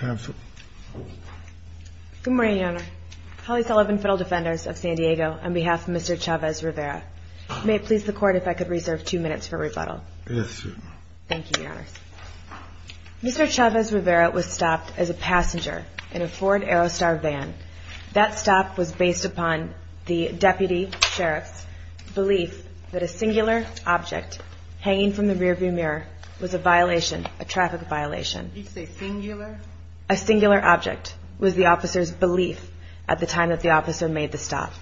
Good morning, Your Honor. Holly Sullivan, Federal Defenders of San Diego, on behalf of Mr. Chavez-Rivera. May it please the Court if I could reserve two minutes for rebuttal. Yes, Your Honor. Thank you, Your Honor. Mr. Chavez-Rivera was stopped as a passenger in a Ford Aerostar van. That stop was based upon the Deputy Sheriff's belief that a singular object hanging from the rearview mirror was a violation, a traffic violation. You say singular? A singular object was the officer's belief at the time that the officer made the stop.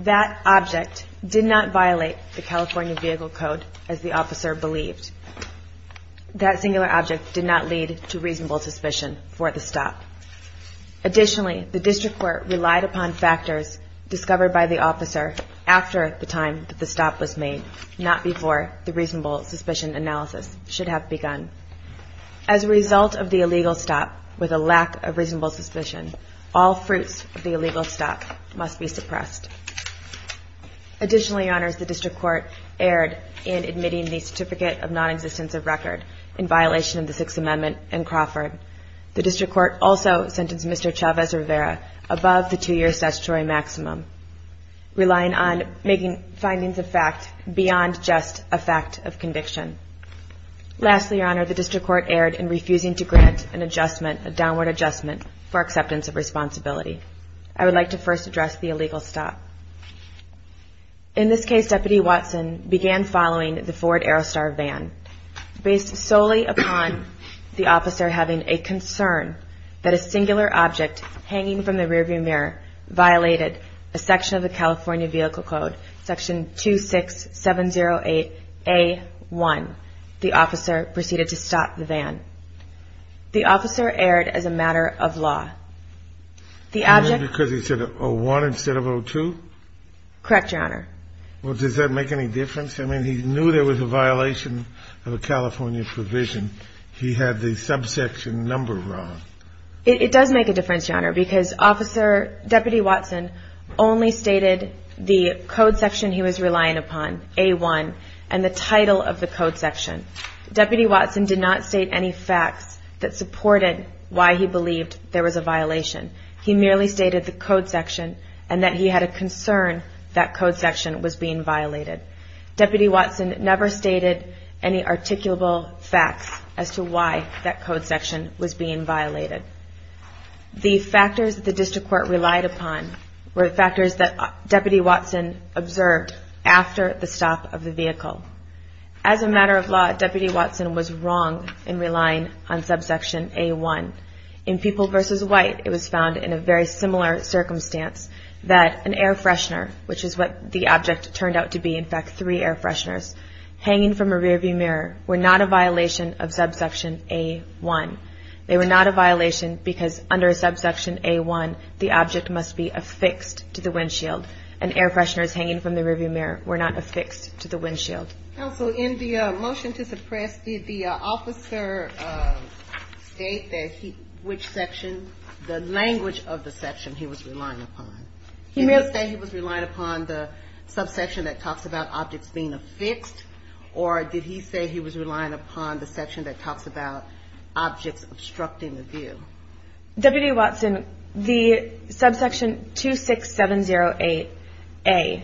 That object did not violate the California Vehicle Code as the officer believed. That singular object did not lead to reasonable suspicion for the stop. Additionally, the District Court relied upon factors discovered by the officer after the time that the stop was made, not before the reasonable suspicion analysis should have begun. As a result of the illegal stop, with a lack of reasonable suspicion, all fruits of the illegal stop must be suppressed. Additionally, Your Honor, the District Court erred in admitting the certificate of nonexistence of record in violation of the Sixth Amendment in Crawford. The District Court also sentenced Mr. Chavez-Rivera above the two-year statutory maximum, relying on making findings of fact beyond just a fact of conviction. Lastly, Your Honor, the District Court erred in refusing to grant an adjustment, a downward adjustment, for acceptance of responsibility. I would like to first address the illegal stop. In this case, Deputy Watson began following the Ford Aerostar van. Based solely upon the officer having a concern that a singular object hanging from the rearview mirror violated a section of the California Vehicle Code, Section 26708A1, the officer proceeded to stop the van. The officer erred as a matter of law. The object... Because he said 01 instead of 02? Correct, Your Honor. Well, does that make any difference? I mean, he knew there was a violation of a California provision. He had the subsection number wrong. It does make a difference, Your Honor, because Deputy Watson only stated the code section he was relying upon, A1, and the title of the code section. Deputy Watson did not state any facts that supported why he believed there was a violation. He merely stated the code section and that he had a concern that code section was being violated. Deputy Watson never stated any articulable facts as to why that code section was being violated. The factors the District Court relied upon were factors that Deputy Watson observed after the stop of the vehicle. As a matter of law, Deputy Watson was wrong in relying on subsection A1. In People v. White, it was found in a very similar circumstance that an air freshener, which is what the object turned out to be, in fact, three air fresheners, hanging from a rearview mirror, were not a violation of subsection A1. They were not a violation because under subsection A1, the object must be affixed to the windshield, and air fresheners hanging from the rearview mirror were not affixed to the windshield. Counsel, in the motion to suppress, did the officer state which section, the language of the section he was relying upon? Did he say he was relying upon the subsection that talks about objects being affixed, or did he say he was relying upon the section that talks about objects obstructing the view? Deputy Watson, the subsection 26708A,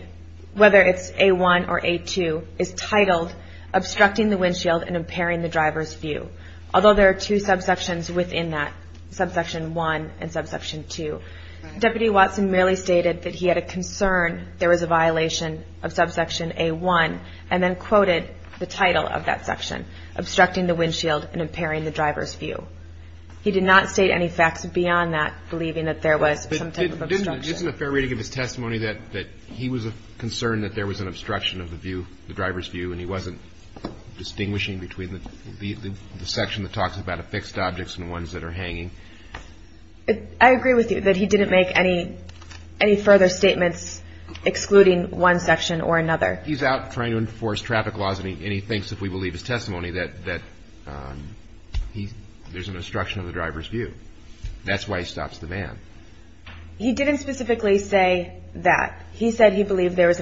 whether it's A1 or A2, is titled Obstructing the Windshield and Impairing the Driver's View, although there are two subsections within that, subsection 1 and subsection 2. Deputy Watson merely stated that he had a concern there was a violation of subsection A1, and then quoted the title of that section, Obstructing the Windshield and Impairing the Driver's View. He did not state any facts beyond that, believing that there was some type of obstruction. Isn't it fair to give his testimony that he was concerned that there was an obstruction of the view, the driver's view, and he wasn't distinguishing between the section that talks about affixed objects and ones that are hanging? I agree with you that he didn't make any further statements excluding one section or another. He's out trying to enforce traffic laws, and he thinks, if we believe his testimony, that there's an obstruction of the driver's view. That's why he stops the van. He didn't specifically say that. He said he believed there was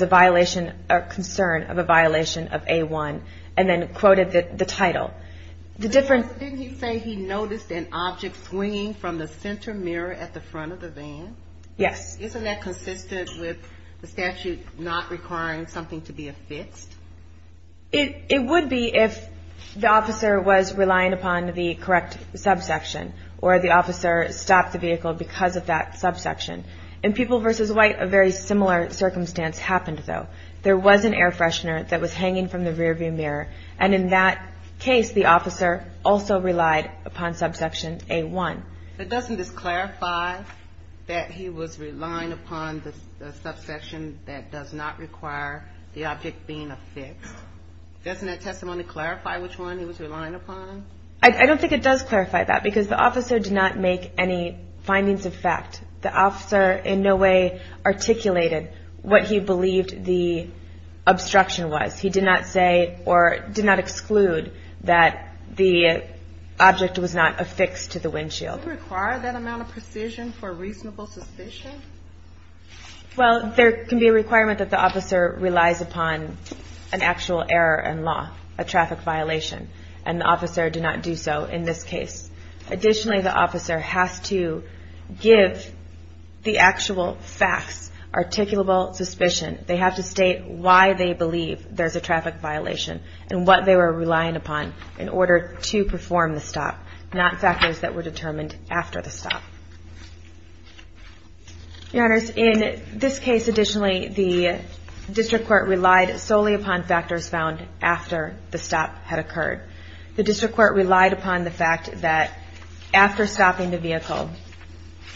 a concern of a violation of A1, and then quoted the title. Didn't he say he noticed an object swinging from the center mirror at the front of the van? Yes. Isn't that consistent with the statute not requiring something to be affixed? It would be if the officer was relying upon the correct subsection or the officer stopped the vehicle because of that subsection. In People v. White, a very similar circumstance happened, though. There was an air freshener that was hanging from the rearview mirror, and in that case the officer also relied upon subsection A1. Doesn't this clarify that he was relying upon the subsection that does not require the object being affixed? Doesn't that testimony clarify which one he was relying upon? I don't think it does clarify that because the officer did not make any findings of fact. The officer in no way articulated what he believed the obstruction was. He did not say or did not exclude that the object was not affixed to the windshield. Does it require that amount of precision for reasonable suspicion? Well, there can be a requirement that the officer relies upon an actual error in law, a traffic violation, and the officer did not do so in this case. Additionally, the officer has to give the actual facts articulable suspicion. They have to state why they believe there's a traffic violation and what they were relying upon in order to perform the stop, not factors that were determined after the stop. Your Honors, in this case, additionally, the District Court relied solely upon factors found after the stop had occurred. The District Court relied upon the fact that after stopping the vehicle,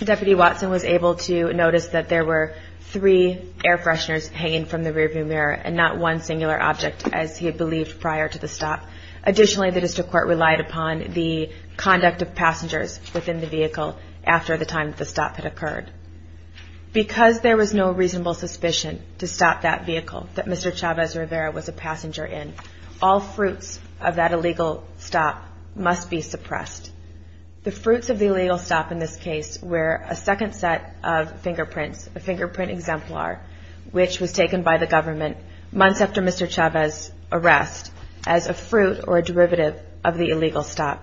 Deputy Watson was able to notice that there were three air fresheners hanging from the rearview mirror and not one singular object as he had believed prior to the stop. Additionally, the District Court relied upon the conduct of passengers within the vehicle after the time that the stop had occurred. Because there was no reasonable suspicion to stop that vehicle that Mr. Chavez-Rivera was a passenger in, all fruits of that illegal stop must be suppressed. The fruits of the illegal stop in this case were a second set of fingerprints, a fingerprint exemplar which was taken by the government months after Mr. Chavez' arrest as a fruit or a derivative of the illegal stop.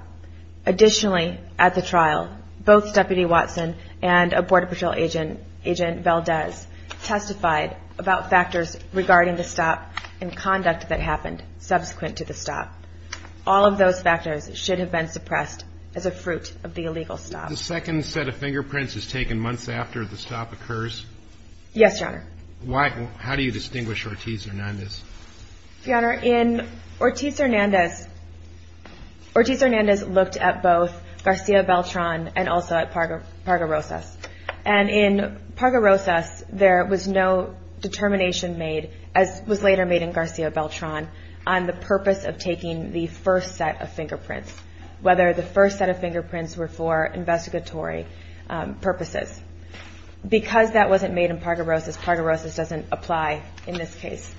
Additionally, at the trial, both Deputy Watson and a Border Patrol agent, Agent Valdez, testified about factors regarding the stop and conduct that happened subsequent to the stop. All of those factors should have been suppressed as a fruit of the illegal stop. The second set of fingerprints is taken months after the stop occurs? Yes, Your Honor. How do you distinguish Ortiz-Hernandez? Your Honor, in Ortiz-Hernandez, Ortiz-Hernandez looked at both Garcia Beltran and also at Parga-Rosas. And in Parga-Rosas, there was no determination made, as was later made in Garcia Beltran, on the purpose of taking the first set of fingerprints, whether the first set of fingerprints were for investigatory purposes. Because that wasn't made in Parga-Rosas, Parga-Rosas doesn't apply in this case.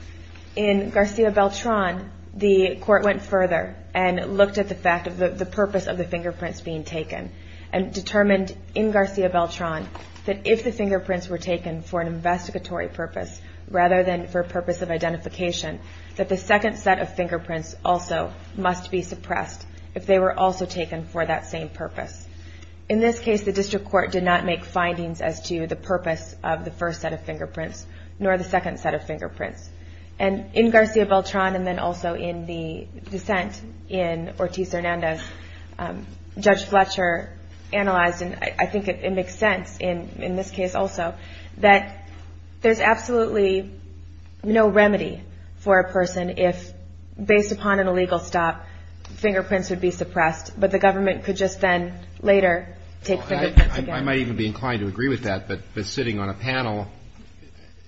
In Garcia Beltran, the court went further and looked at the purpose of the fingerprints being taken and determined in Garcia Beltran that if the fingerprints were taken for an investigatory purpose rather than for purpose of identification, that the second set of fingerprints also must be suppressed if they were also taken for that same purpose. In this case, the district court did not make findings as to the purpose of the first set of fingerprints nor the second set of fingerprints. And in Garcia Beltran and then also in the dissent in Ortiz-Hernandez, Judge Fletcher analyzed, and I think it makes sense in this case also, that there's absolutely no remedy for a person if based upon an illegal stop, fingerprints would be suppressed, but the government could just then later take fingerprints again. I might even be inclined to agree with that, but sitting on a panel,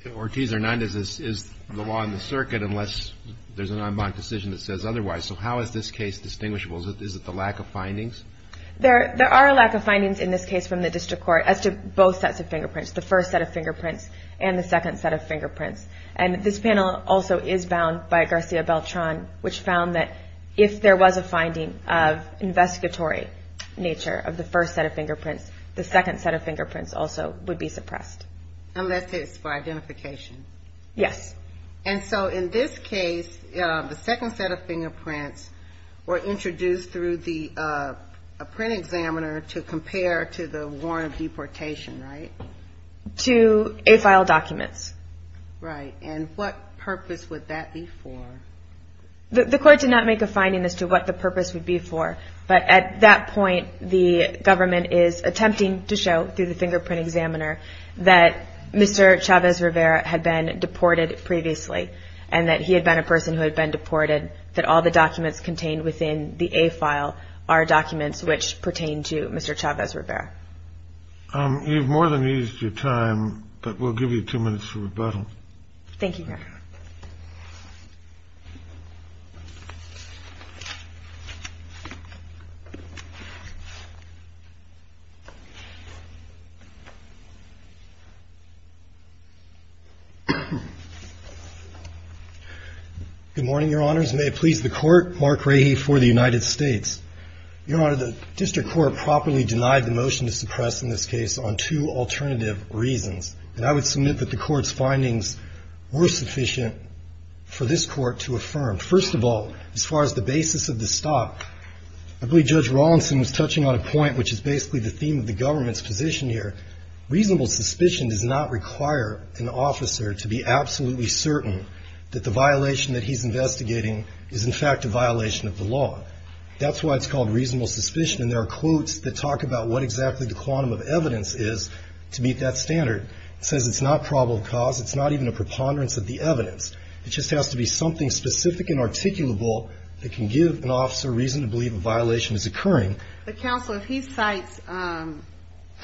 Ortiz-Hernandez is the law in the circuit unless there's a non-bond decision that says otherwise. So how is this case distinguishable? Is it the lack of findings? There are a lack of findings in this case from the district court as to both sets of fingerprints, the first set of fingerprints and the second set of fingerprints. And this panel also is bound by Garcia Beltran, which found that if there was a finding of investigatory nature of the first set of fingerprints, the second set of fingerprints also would be suppressed. Unless it's for identification. Yes. And so in this case, the second set of fingerprints were introduced through the print examiner to compare to the warrant of deportation, right? To A-file documents. Right. And what purpose would that be for? The court did not make a finding as to what the purpose would be for, but at that point the government is attempting to show through the fingerprint examiner that Mr. Chavez-Rivera had been deported previously and that he had been a person who had been deported, that all the documents contained within the A-file are documents which pertain to Mr. Chavez-Rivera. You've more than used your time, but we'll give you two minutes for rebuttal. Thank you, Your Honor. Good morning, Your Honors. May it please the Court. Mark Rahe for the United States. Your Honor, the district court properly denied the motion to suppress in this case on two alternative reasons. And I would submit that the court's findings were sufficient for this court to affirm. First of all, as far as the basis of the stop, I believe Judge Rawlinson was touching on a point which is basically the theme of the government's position here. Reasonable suspicion does not require an officer to be absolutely certain that the violation that he's investigating is in fact a violation of the law. That's why it's called reasonable suspicion, and there are quotes that talk about what exactly the quantum of evidence is to meet that standard. It says it's not probable cause. It's not even a preponderance of the evidence. It just has to be something specific and articulable that can give an officer reason to believe a violation is occurring. But, Counselor, if he cites a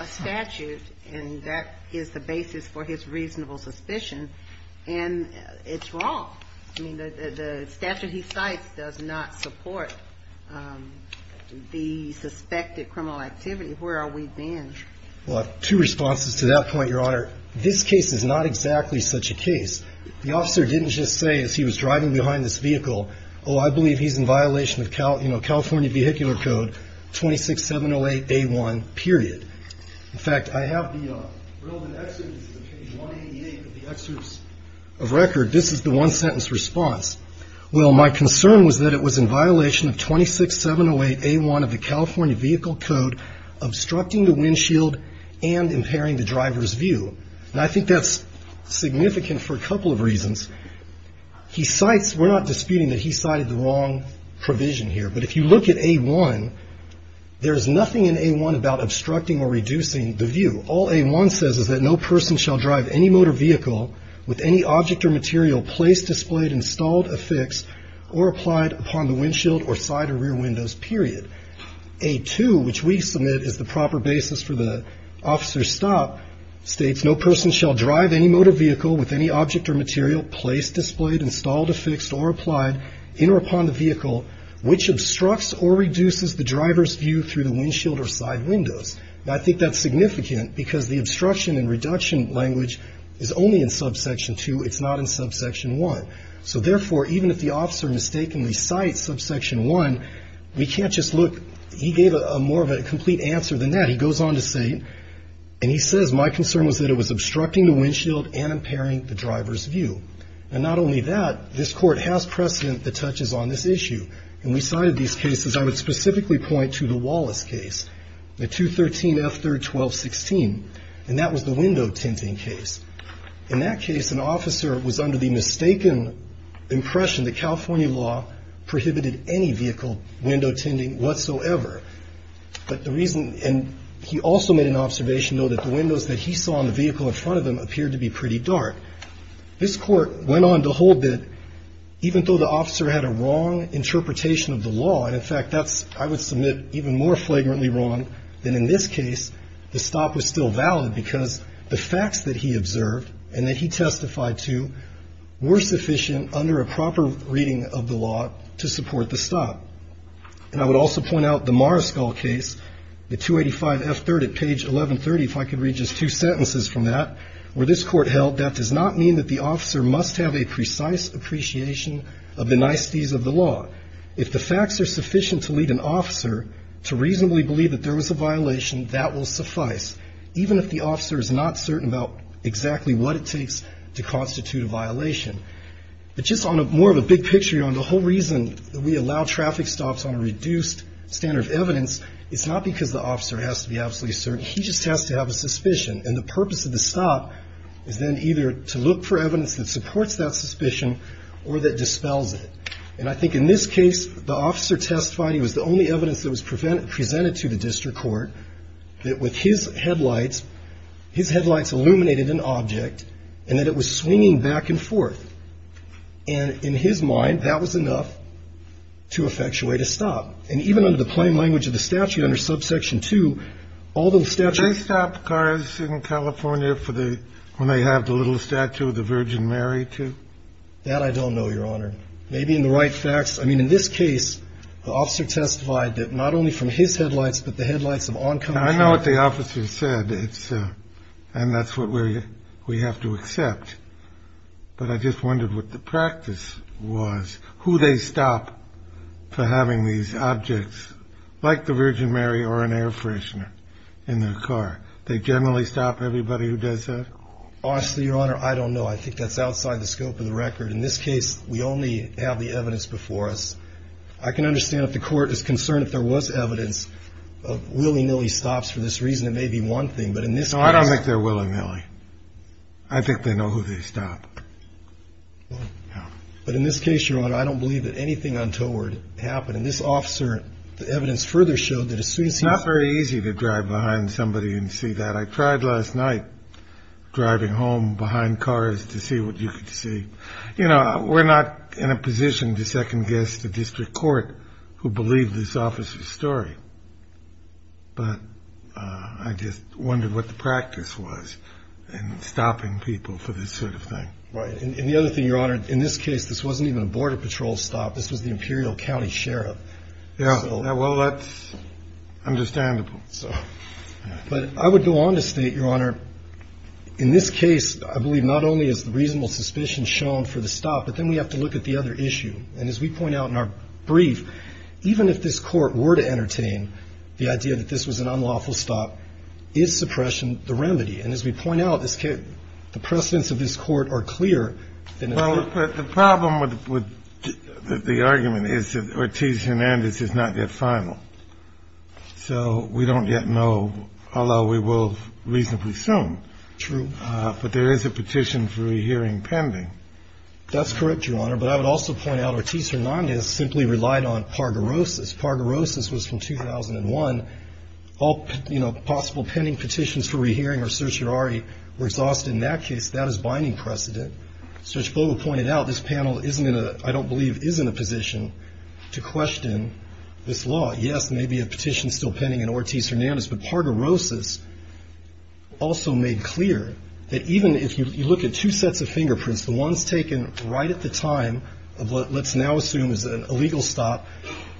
statute and that is the basis for his reasonable suspicion, and it's wrong. I mean, the statute he cites does not support the suspected criminal activity. Where are we then? Well, I have two responses to that point, Your Honor. This case is not exactly such a case. The officer didn't just say as he was driving behind this vehicle, oh, I believe he's in violation of California vehicular code 26708A1 period. In fact, I have the relevant excerpts of page 188 of the excerpts of record. This is the one sentence response. Well, my concern was that it was in violation of 26708A1 of the California vehicle code obstructing the windshield and impairing the driver's view. And I think that's significant for a couple of reasons. We're not disputing that he cited the wrong provision here. But if you look at A1, there's nothing in A1 about obstructing or reducing the view. All A1 says is that no person shall drive any motor vehicle with any object or material placed, displayed, installed, affixed, or applied upon the windshield or side or rear windows, period. A2, which we submit is the proper basis for the officer's stop, states, no person shall drive any motor vehicle with any object or material placed, displayed, installed, affixed, or applied in or upon the vehicle, which obstructs or reduces the driver's view through the windshield or side windows. And I think that's significant because the obstruction and reduction language is only in subsection 2. It's not in subsection 1. So, therefore, even if the officer mistakenly cites subsection 1, we can't just look. He gave more of a complete answer than that. He goes on to say, and he says, my concern was that it was obstructing the windshield and impairing the driver's view. And not only that, this court has precedent that touches on this issue. And we cited these cases. I would specifically point to the Wallace case, the 213F3-1216. And that was the window tinting case. In that case, an officer was under the mistaken impression that California law prohibited any vehicle window tinting whatsoever. But the reason, and he also made an observation, though, that the windows that he saw in the vehicle in front of him appeared to be pretty dark. This court went on to hold that even though the officer had a wrong interpretation of the law, and, in fact, that's, I would submit, even more flagrantly wrong than in this case, the stop was still valid because the facts that he observed and that he testified to were sufficient under a proper reading of the law to support the stop. And I would also point out the Mariscal case, the 285F3 at page 1130, if I could read just two sentences from that, where this court held, that does not mean that the officer must have a precise appreciation of the niceties of the law. If the facts are sufficient to lead an officer to reasonably believe that there was a violation, that will suffice, even if the officer is not certain about exactly what it takes to constitute a violation. But just on more of a big picture, on the whole reason that we allow traffic stops on a reduced standard of evidence, it's not because the officer has to be absolutely certain. He just has to have a suspicion. And the purpose of the stop is then either to look for evidence that supports that suspicion or that dispels it. And I think in this case, the officer testified he was the only evidence that was presented to the district court that with his headlights, his headlights illuminated an object, and that it was swinging back and forth. And in his mind, that was enough to effectuate a stop. And even under the plain language of the statute under subsection 2, all those statutes ---- They stop cars in California for the ñ when they have the little statue of the Virgin Mary, too? That I don't know, Your Honor. Maybe in the right facts. I mean, in this case, the officer testified that not only from his headlights, but the headlights of oncoming cars. I know what the officer said. And that's what we have to accept. But I just wondered what the practice was, who they stop for having these objects, like the Virgin Mary or an air freshener in their car. They generally stop everybody who does that? Honestly, Your Honor, I don't know. I think that's outside the scope of the record. In this case, we only have the evidence before us. I can understand if the court is concerned if there was evidence of willy-nilly stops for this reason. It may be one thing. But in this case ñ No, I don't think they're willy-nilly. I think they know who they stop. But in this case, Your Honor, I don't believe that anything untoward happened. And this officer, the evidence further showed that as soon as he ñ It's not very easy to drive behind somebody and see that. I tried last night driving home behind cars to see what you could see. You know, we're not in a position to second-guess the district court who believed this officer's story. But I just wondered what the practice was in stopping people for this sort of thing. And the other thing, Your Honor, in this case, this wasn't even a Border Patrol stop. This was the Imperial County Sheriff. Yeah. Well, that's understandable. But I would go on to state, Your Honor, in this case, I believe not only is the reasonable suspicion shown for the stop, but then we have to look at the other issue. And as we point out in our brief, even if this Court were to entertain the idea that this was an unlawful stop, is suppression the remedy? And as we point out, the precedents of this Court are clear. Well, the problem with the argument is that Ortiz-Hernandez is not yet final. So we don't yet know how long we will reasonably assume. True. But there is a petition for rehearing pending. That's correct, Your Honor. But I would also point out Ortiz-Hernandez simply relied on pargorosis. Pargorosis was from 2001. All, you know, possible pending petitions for rehearing or certiorari were exhausted in that case. That is binding precedent. As Judge Bogle pointed out, this panel isn't in a, I don't believe is in a position to question this law. Yes, there may be a petition still pending in Ortiz-Hernandez. But pargorosis also made clear that even if you look at two sets of fingerprints, the ones taken right at the time of what let's now assume is an illegal stop,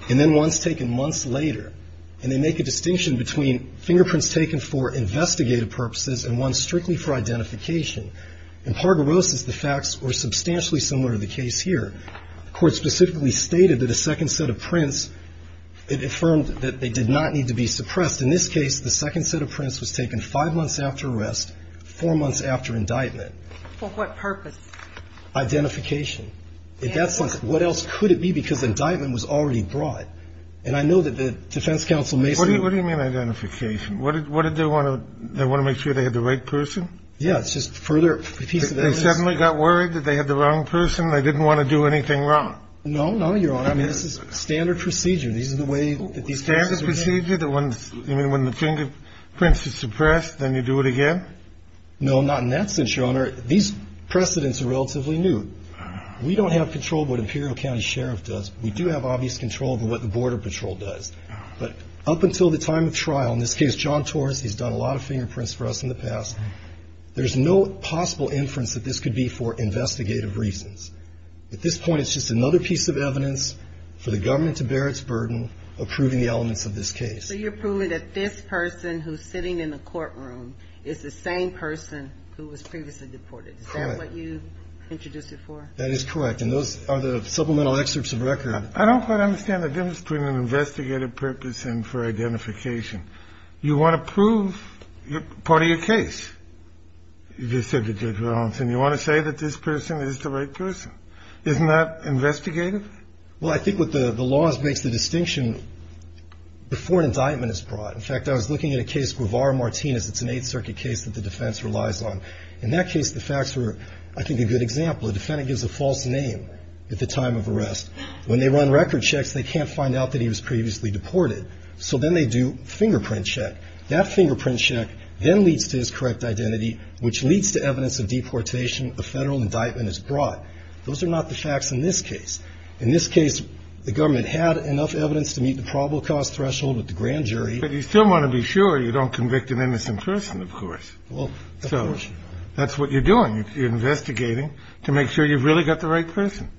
and then ones taken months later, and they make a distinction between fingerprints taken for investigative purposes and ones strictly for identification. In pargorosis, the facts were substantially similar to the case here. The Court specifically stated that a second set of prints, it affirmed that they did not need to be suppressed. In this case, the second set of prints was taken five months after arrest, four months after indictment. For what purpose? Identification. What else could it be? Because indictment was already brought. And I know that the defense counsel may say. What do you mean identification? What did they want to make sure they had the right person? Yeah, it's just further piece of evidence. They suddenly got worried that they had the wrong person? They didn't want to do anything wrong? No, no, Your Honor. I mean, this is standard procedure. These are the way that these cases are done. Standard procedure? You mean when the fingerprint is suppressed, then you do it again? No, not in that sense, Your Honor. These precedents are relatively new. We don't have control of what Imperial County Sheriff does. We do have obvious control over what the Border Patrol does. But up until the time of trial, in this case, John Torres, he's done a lot of fingerprints for us in the past. There's no possible inference that this could be for investigative reasons. At this point, it's just another piece of evidence for the government to bear its burden of proving the elements of this case. So you're proving that this person who's sitting in the courtroom is the same person who was previously deported. Correct. Is that what you introduced it for? That is correct. And those are the supplemental excerpts of record. I don't quite understand the difference between an investigative purpose and for identification. You want to prove part of your case. You just said to Judge Rollins, and you want to say that this person is the right person. Isn't that investigative? Well, I think what the law makes the distinction before an indictment is brought. In fact, I was looking at a case, Guevara-Martinez. It's an Eighth Circuit case that the defense relies on. In that case, the facts were, I think, a good example. A defendant gives a false name at the time of arrest. When they run record checks, they can't find out that he was previously deported. So then they do fingerprint check. That fingerprint check then leads to his correct identity, which leads to evidence of deportation. A federal indictment is brought. Those are not the facts in this case. In this case, the government had enough evidence to meet the probable cause threshold with the grand jury. But you still want to be sure you don't convict an innocent person, of course. Well, of course. So that's what you're doing. You're investigating to make sure you've really got the right person.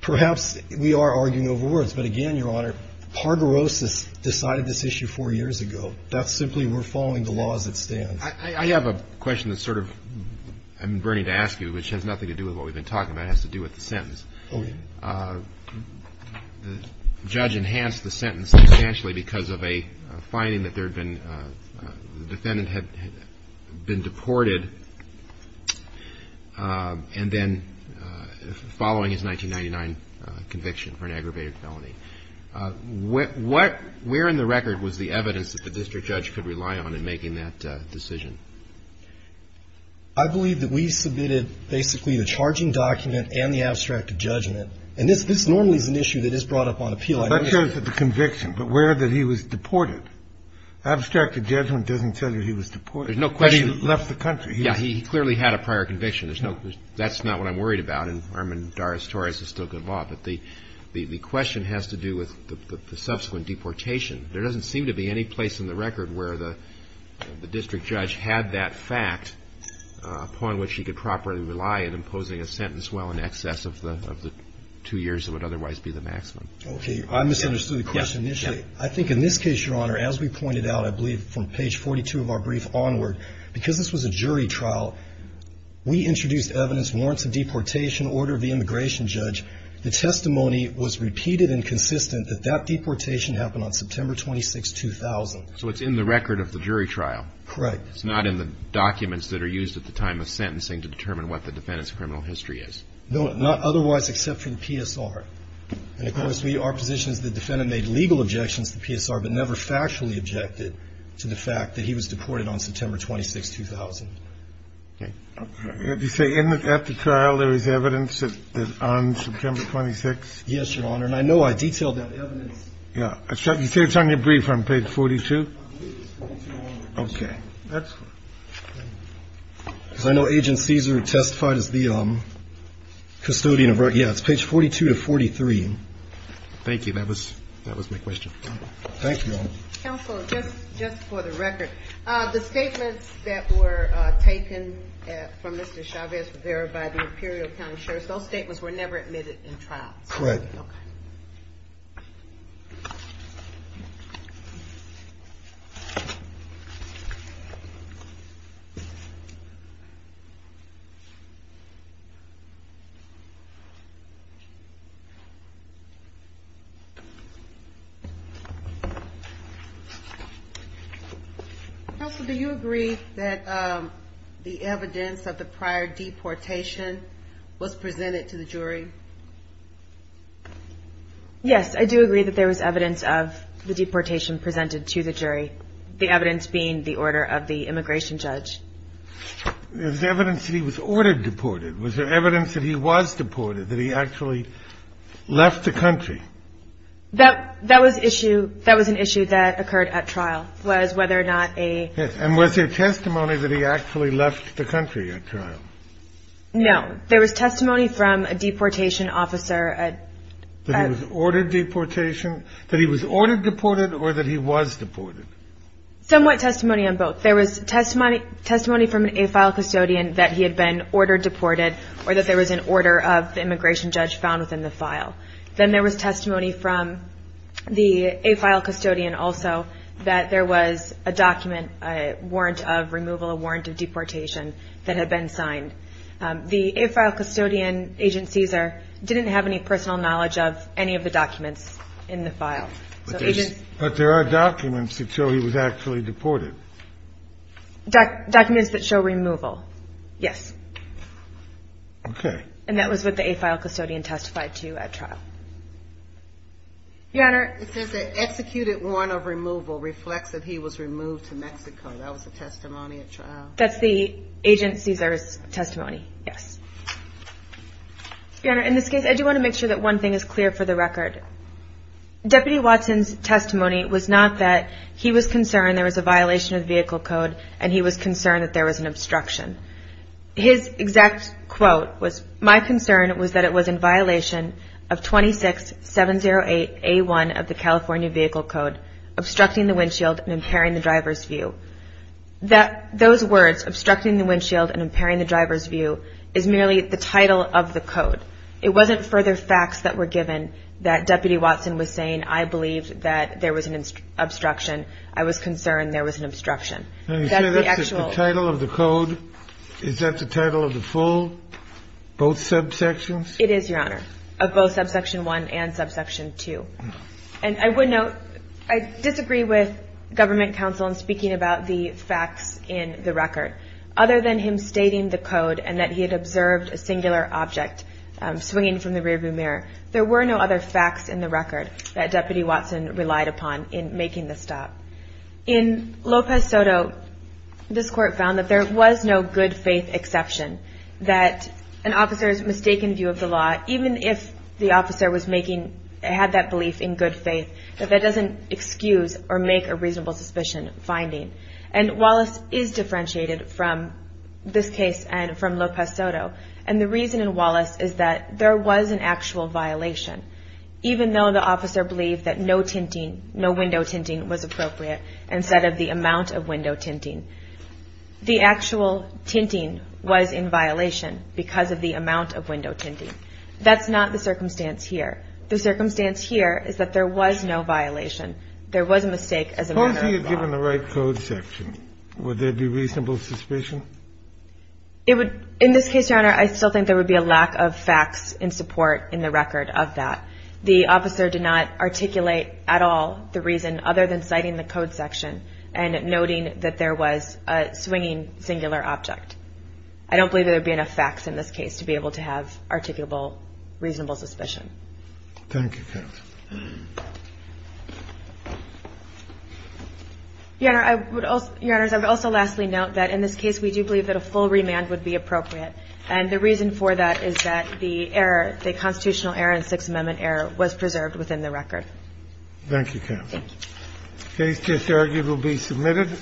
Perhaps we are arguing over words. But again, Your Honor, Parderos has decided this issue four years ago. That's simply we're following the laws that stand. I have a question that's sort of I'm burning to ask you, which has nothing to do with what we've been talking about. It has to do with the sentence. Okay. The judge enhanced the sentence substantially because of a finding that there had been the defendant had been deported. And then following his 1999 conviction for an aggravated felony. Where in the record was the evidence that the district judge could rely on in making that decision? I believe that we submitted basically the charging document and the abstract of judgment. And this normally is an issue that is brought up on appeal. That shows that the conviction, but where that he was deported. Abstract of judgment doesn't tell you he was deported. There's no question. He left the country. Yeah, he clearly had a prior conviction. That's not what I'm worried about. And Armand Doris Torres is still good law. But the question has to do with the subsequent deportation. There doesn't seem to be any place in the record where the district judge had that fact upon which he could properly rely in imposing a sentence well in excess of the two years that would otherwise be the maximum. Okay. I misunderstood the question initially. I think in this case, Your Honor, as we pointed out, I believe from page 42 of our brief onward, because this was a jury trial, we introduced evidence, warrants of deportation, order of the immigration judge. The testimony was repeated and consistent that that deportation happened on September 26, 2000. So it's in the record of the jury trial. Correct. It's not in the documents that are used at the time of sentencing to determine what the defendant's criminal history is. No, not otherwise except for the PSR. And, of course, our position is the defendant made legal objections to the PSR, but never factually objected to the fact that he was deported on September 26, 2000. Okay. Did you say at the trial there was evidence that on September 26th? Yes, Your Honor. And I know I detailed that evidence. Yeah. You say it's on your brief on page 42? Okay. Because I know Agent Cesar testified as the custodian. Yeah, it's page 42 to 43. Thank you. That was my question. Thank you. Counsel, just for the record, the statements that were taken from Mr. Chavez Rivera by the Imperial County Sheriff's Office, those statements were never admitted in trial. Correct. Okay. Counsel, do you agree that the evidence of the prior deportation was presented to the jury? Yes, I do agree that there was evidence of the deportation presented to the jury, the evidence being the order of the immigration judge. There's evidence that he was ordered deported. Was there evidence that he was deported, that he actually left the country? That was an issue that occurred at trial, was whether or not a ---- And was there testimony that he actually left the country at trial? No. There was testimony from a deportation officer. That he was ordered deportation? That he was ordered deported or that he was deported? Somewhat testimony on both. There was testimony from an AFILE custodian that he had been ordered deported or that there was an order of the immigration judge found within the file. Then there was testimony from the AFILE custodian also that there was a document, a warrant of removal, a warrant of deportation that had been signed. The AFILE custodian, Agent Cesar, didn't have any personal knowledge of any of the documents in the file. But there are documents that show he was actually deported? Documents that show removal, yes. Okay. And that was what the AFILE custodian testified to at trial. Your Honor? It says that executed warrant of removal reflects that he was removed to Mexico. That was the testimony at trial? That's the Agent Cesar's testimony, yes. Your Honor, in this case, I do want to make sure that one thing is clear for the record. Deputy Watson's testimony was not that he was concerned there was a violation of the vehicle code and he was concerned that there was an obstruction. His exact quote was, my concern was that it was in violation of 26708A1 of the California Vehicle Code, obstructing the windshield and impairing the driver's view. Those words, obstructing the windshield and impairing the driver's view, is merely the title of the code. It wasn't further facts that were given that Deputy Watson was saying, I believe that there was an obstruction. Is that the title of the code? Is that the title of the full, both subsections? It is, Your Honor, of both subsection 1 and subsection 2. And I would note, I disagree with government counsel in speaking about the facts in the record. Other than him stating the code and that he had observed a singular object swinging from the rearview mirror, there were no other facts in the record that Deputy Watson relied upon in making the stop. In Lopez Soto, this Court found that there was no good faith exception, that an officer's mistaken view of the law, even if the officer was making, had that belief in good faith, that that doesn't excuse or make a reasonable suspicion finding. And Wallace is differentiated from this case and from Lopez Soto. And the reason in Wallace is that there was an actual violation, even though the officer believed that no tinting, no window tinting was appropriate, instead of the amount of window tinting. The actual tinting was in violation because of the amount of window tinting. That's not the circumstance here. The circumstance here is that there was no violation. There was a mistake as a matter of law. Suppose he had given the right code section. Would there be reasonable suspicion? In this case, Your Honor, I still think there would be a lack of facts in support in the record of that. The officer did not articulate at all the reason other than citing the code section and noting that there was a swinging singular object. I don't believe there would be enough facts in this case to be able to have articulable, reasonable suspicion. Thank you, Carol. Your Honor, I would also, Your Honors, I would also lastly note that in this case, we do believe that a full remand would be appropriate. And the reason for that is that the error, the constitutional error and Sixth Amendment error was preserved within the record. Thank you, Carol. Thank you. The case is argued to be submitted.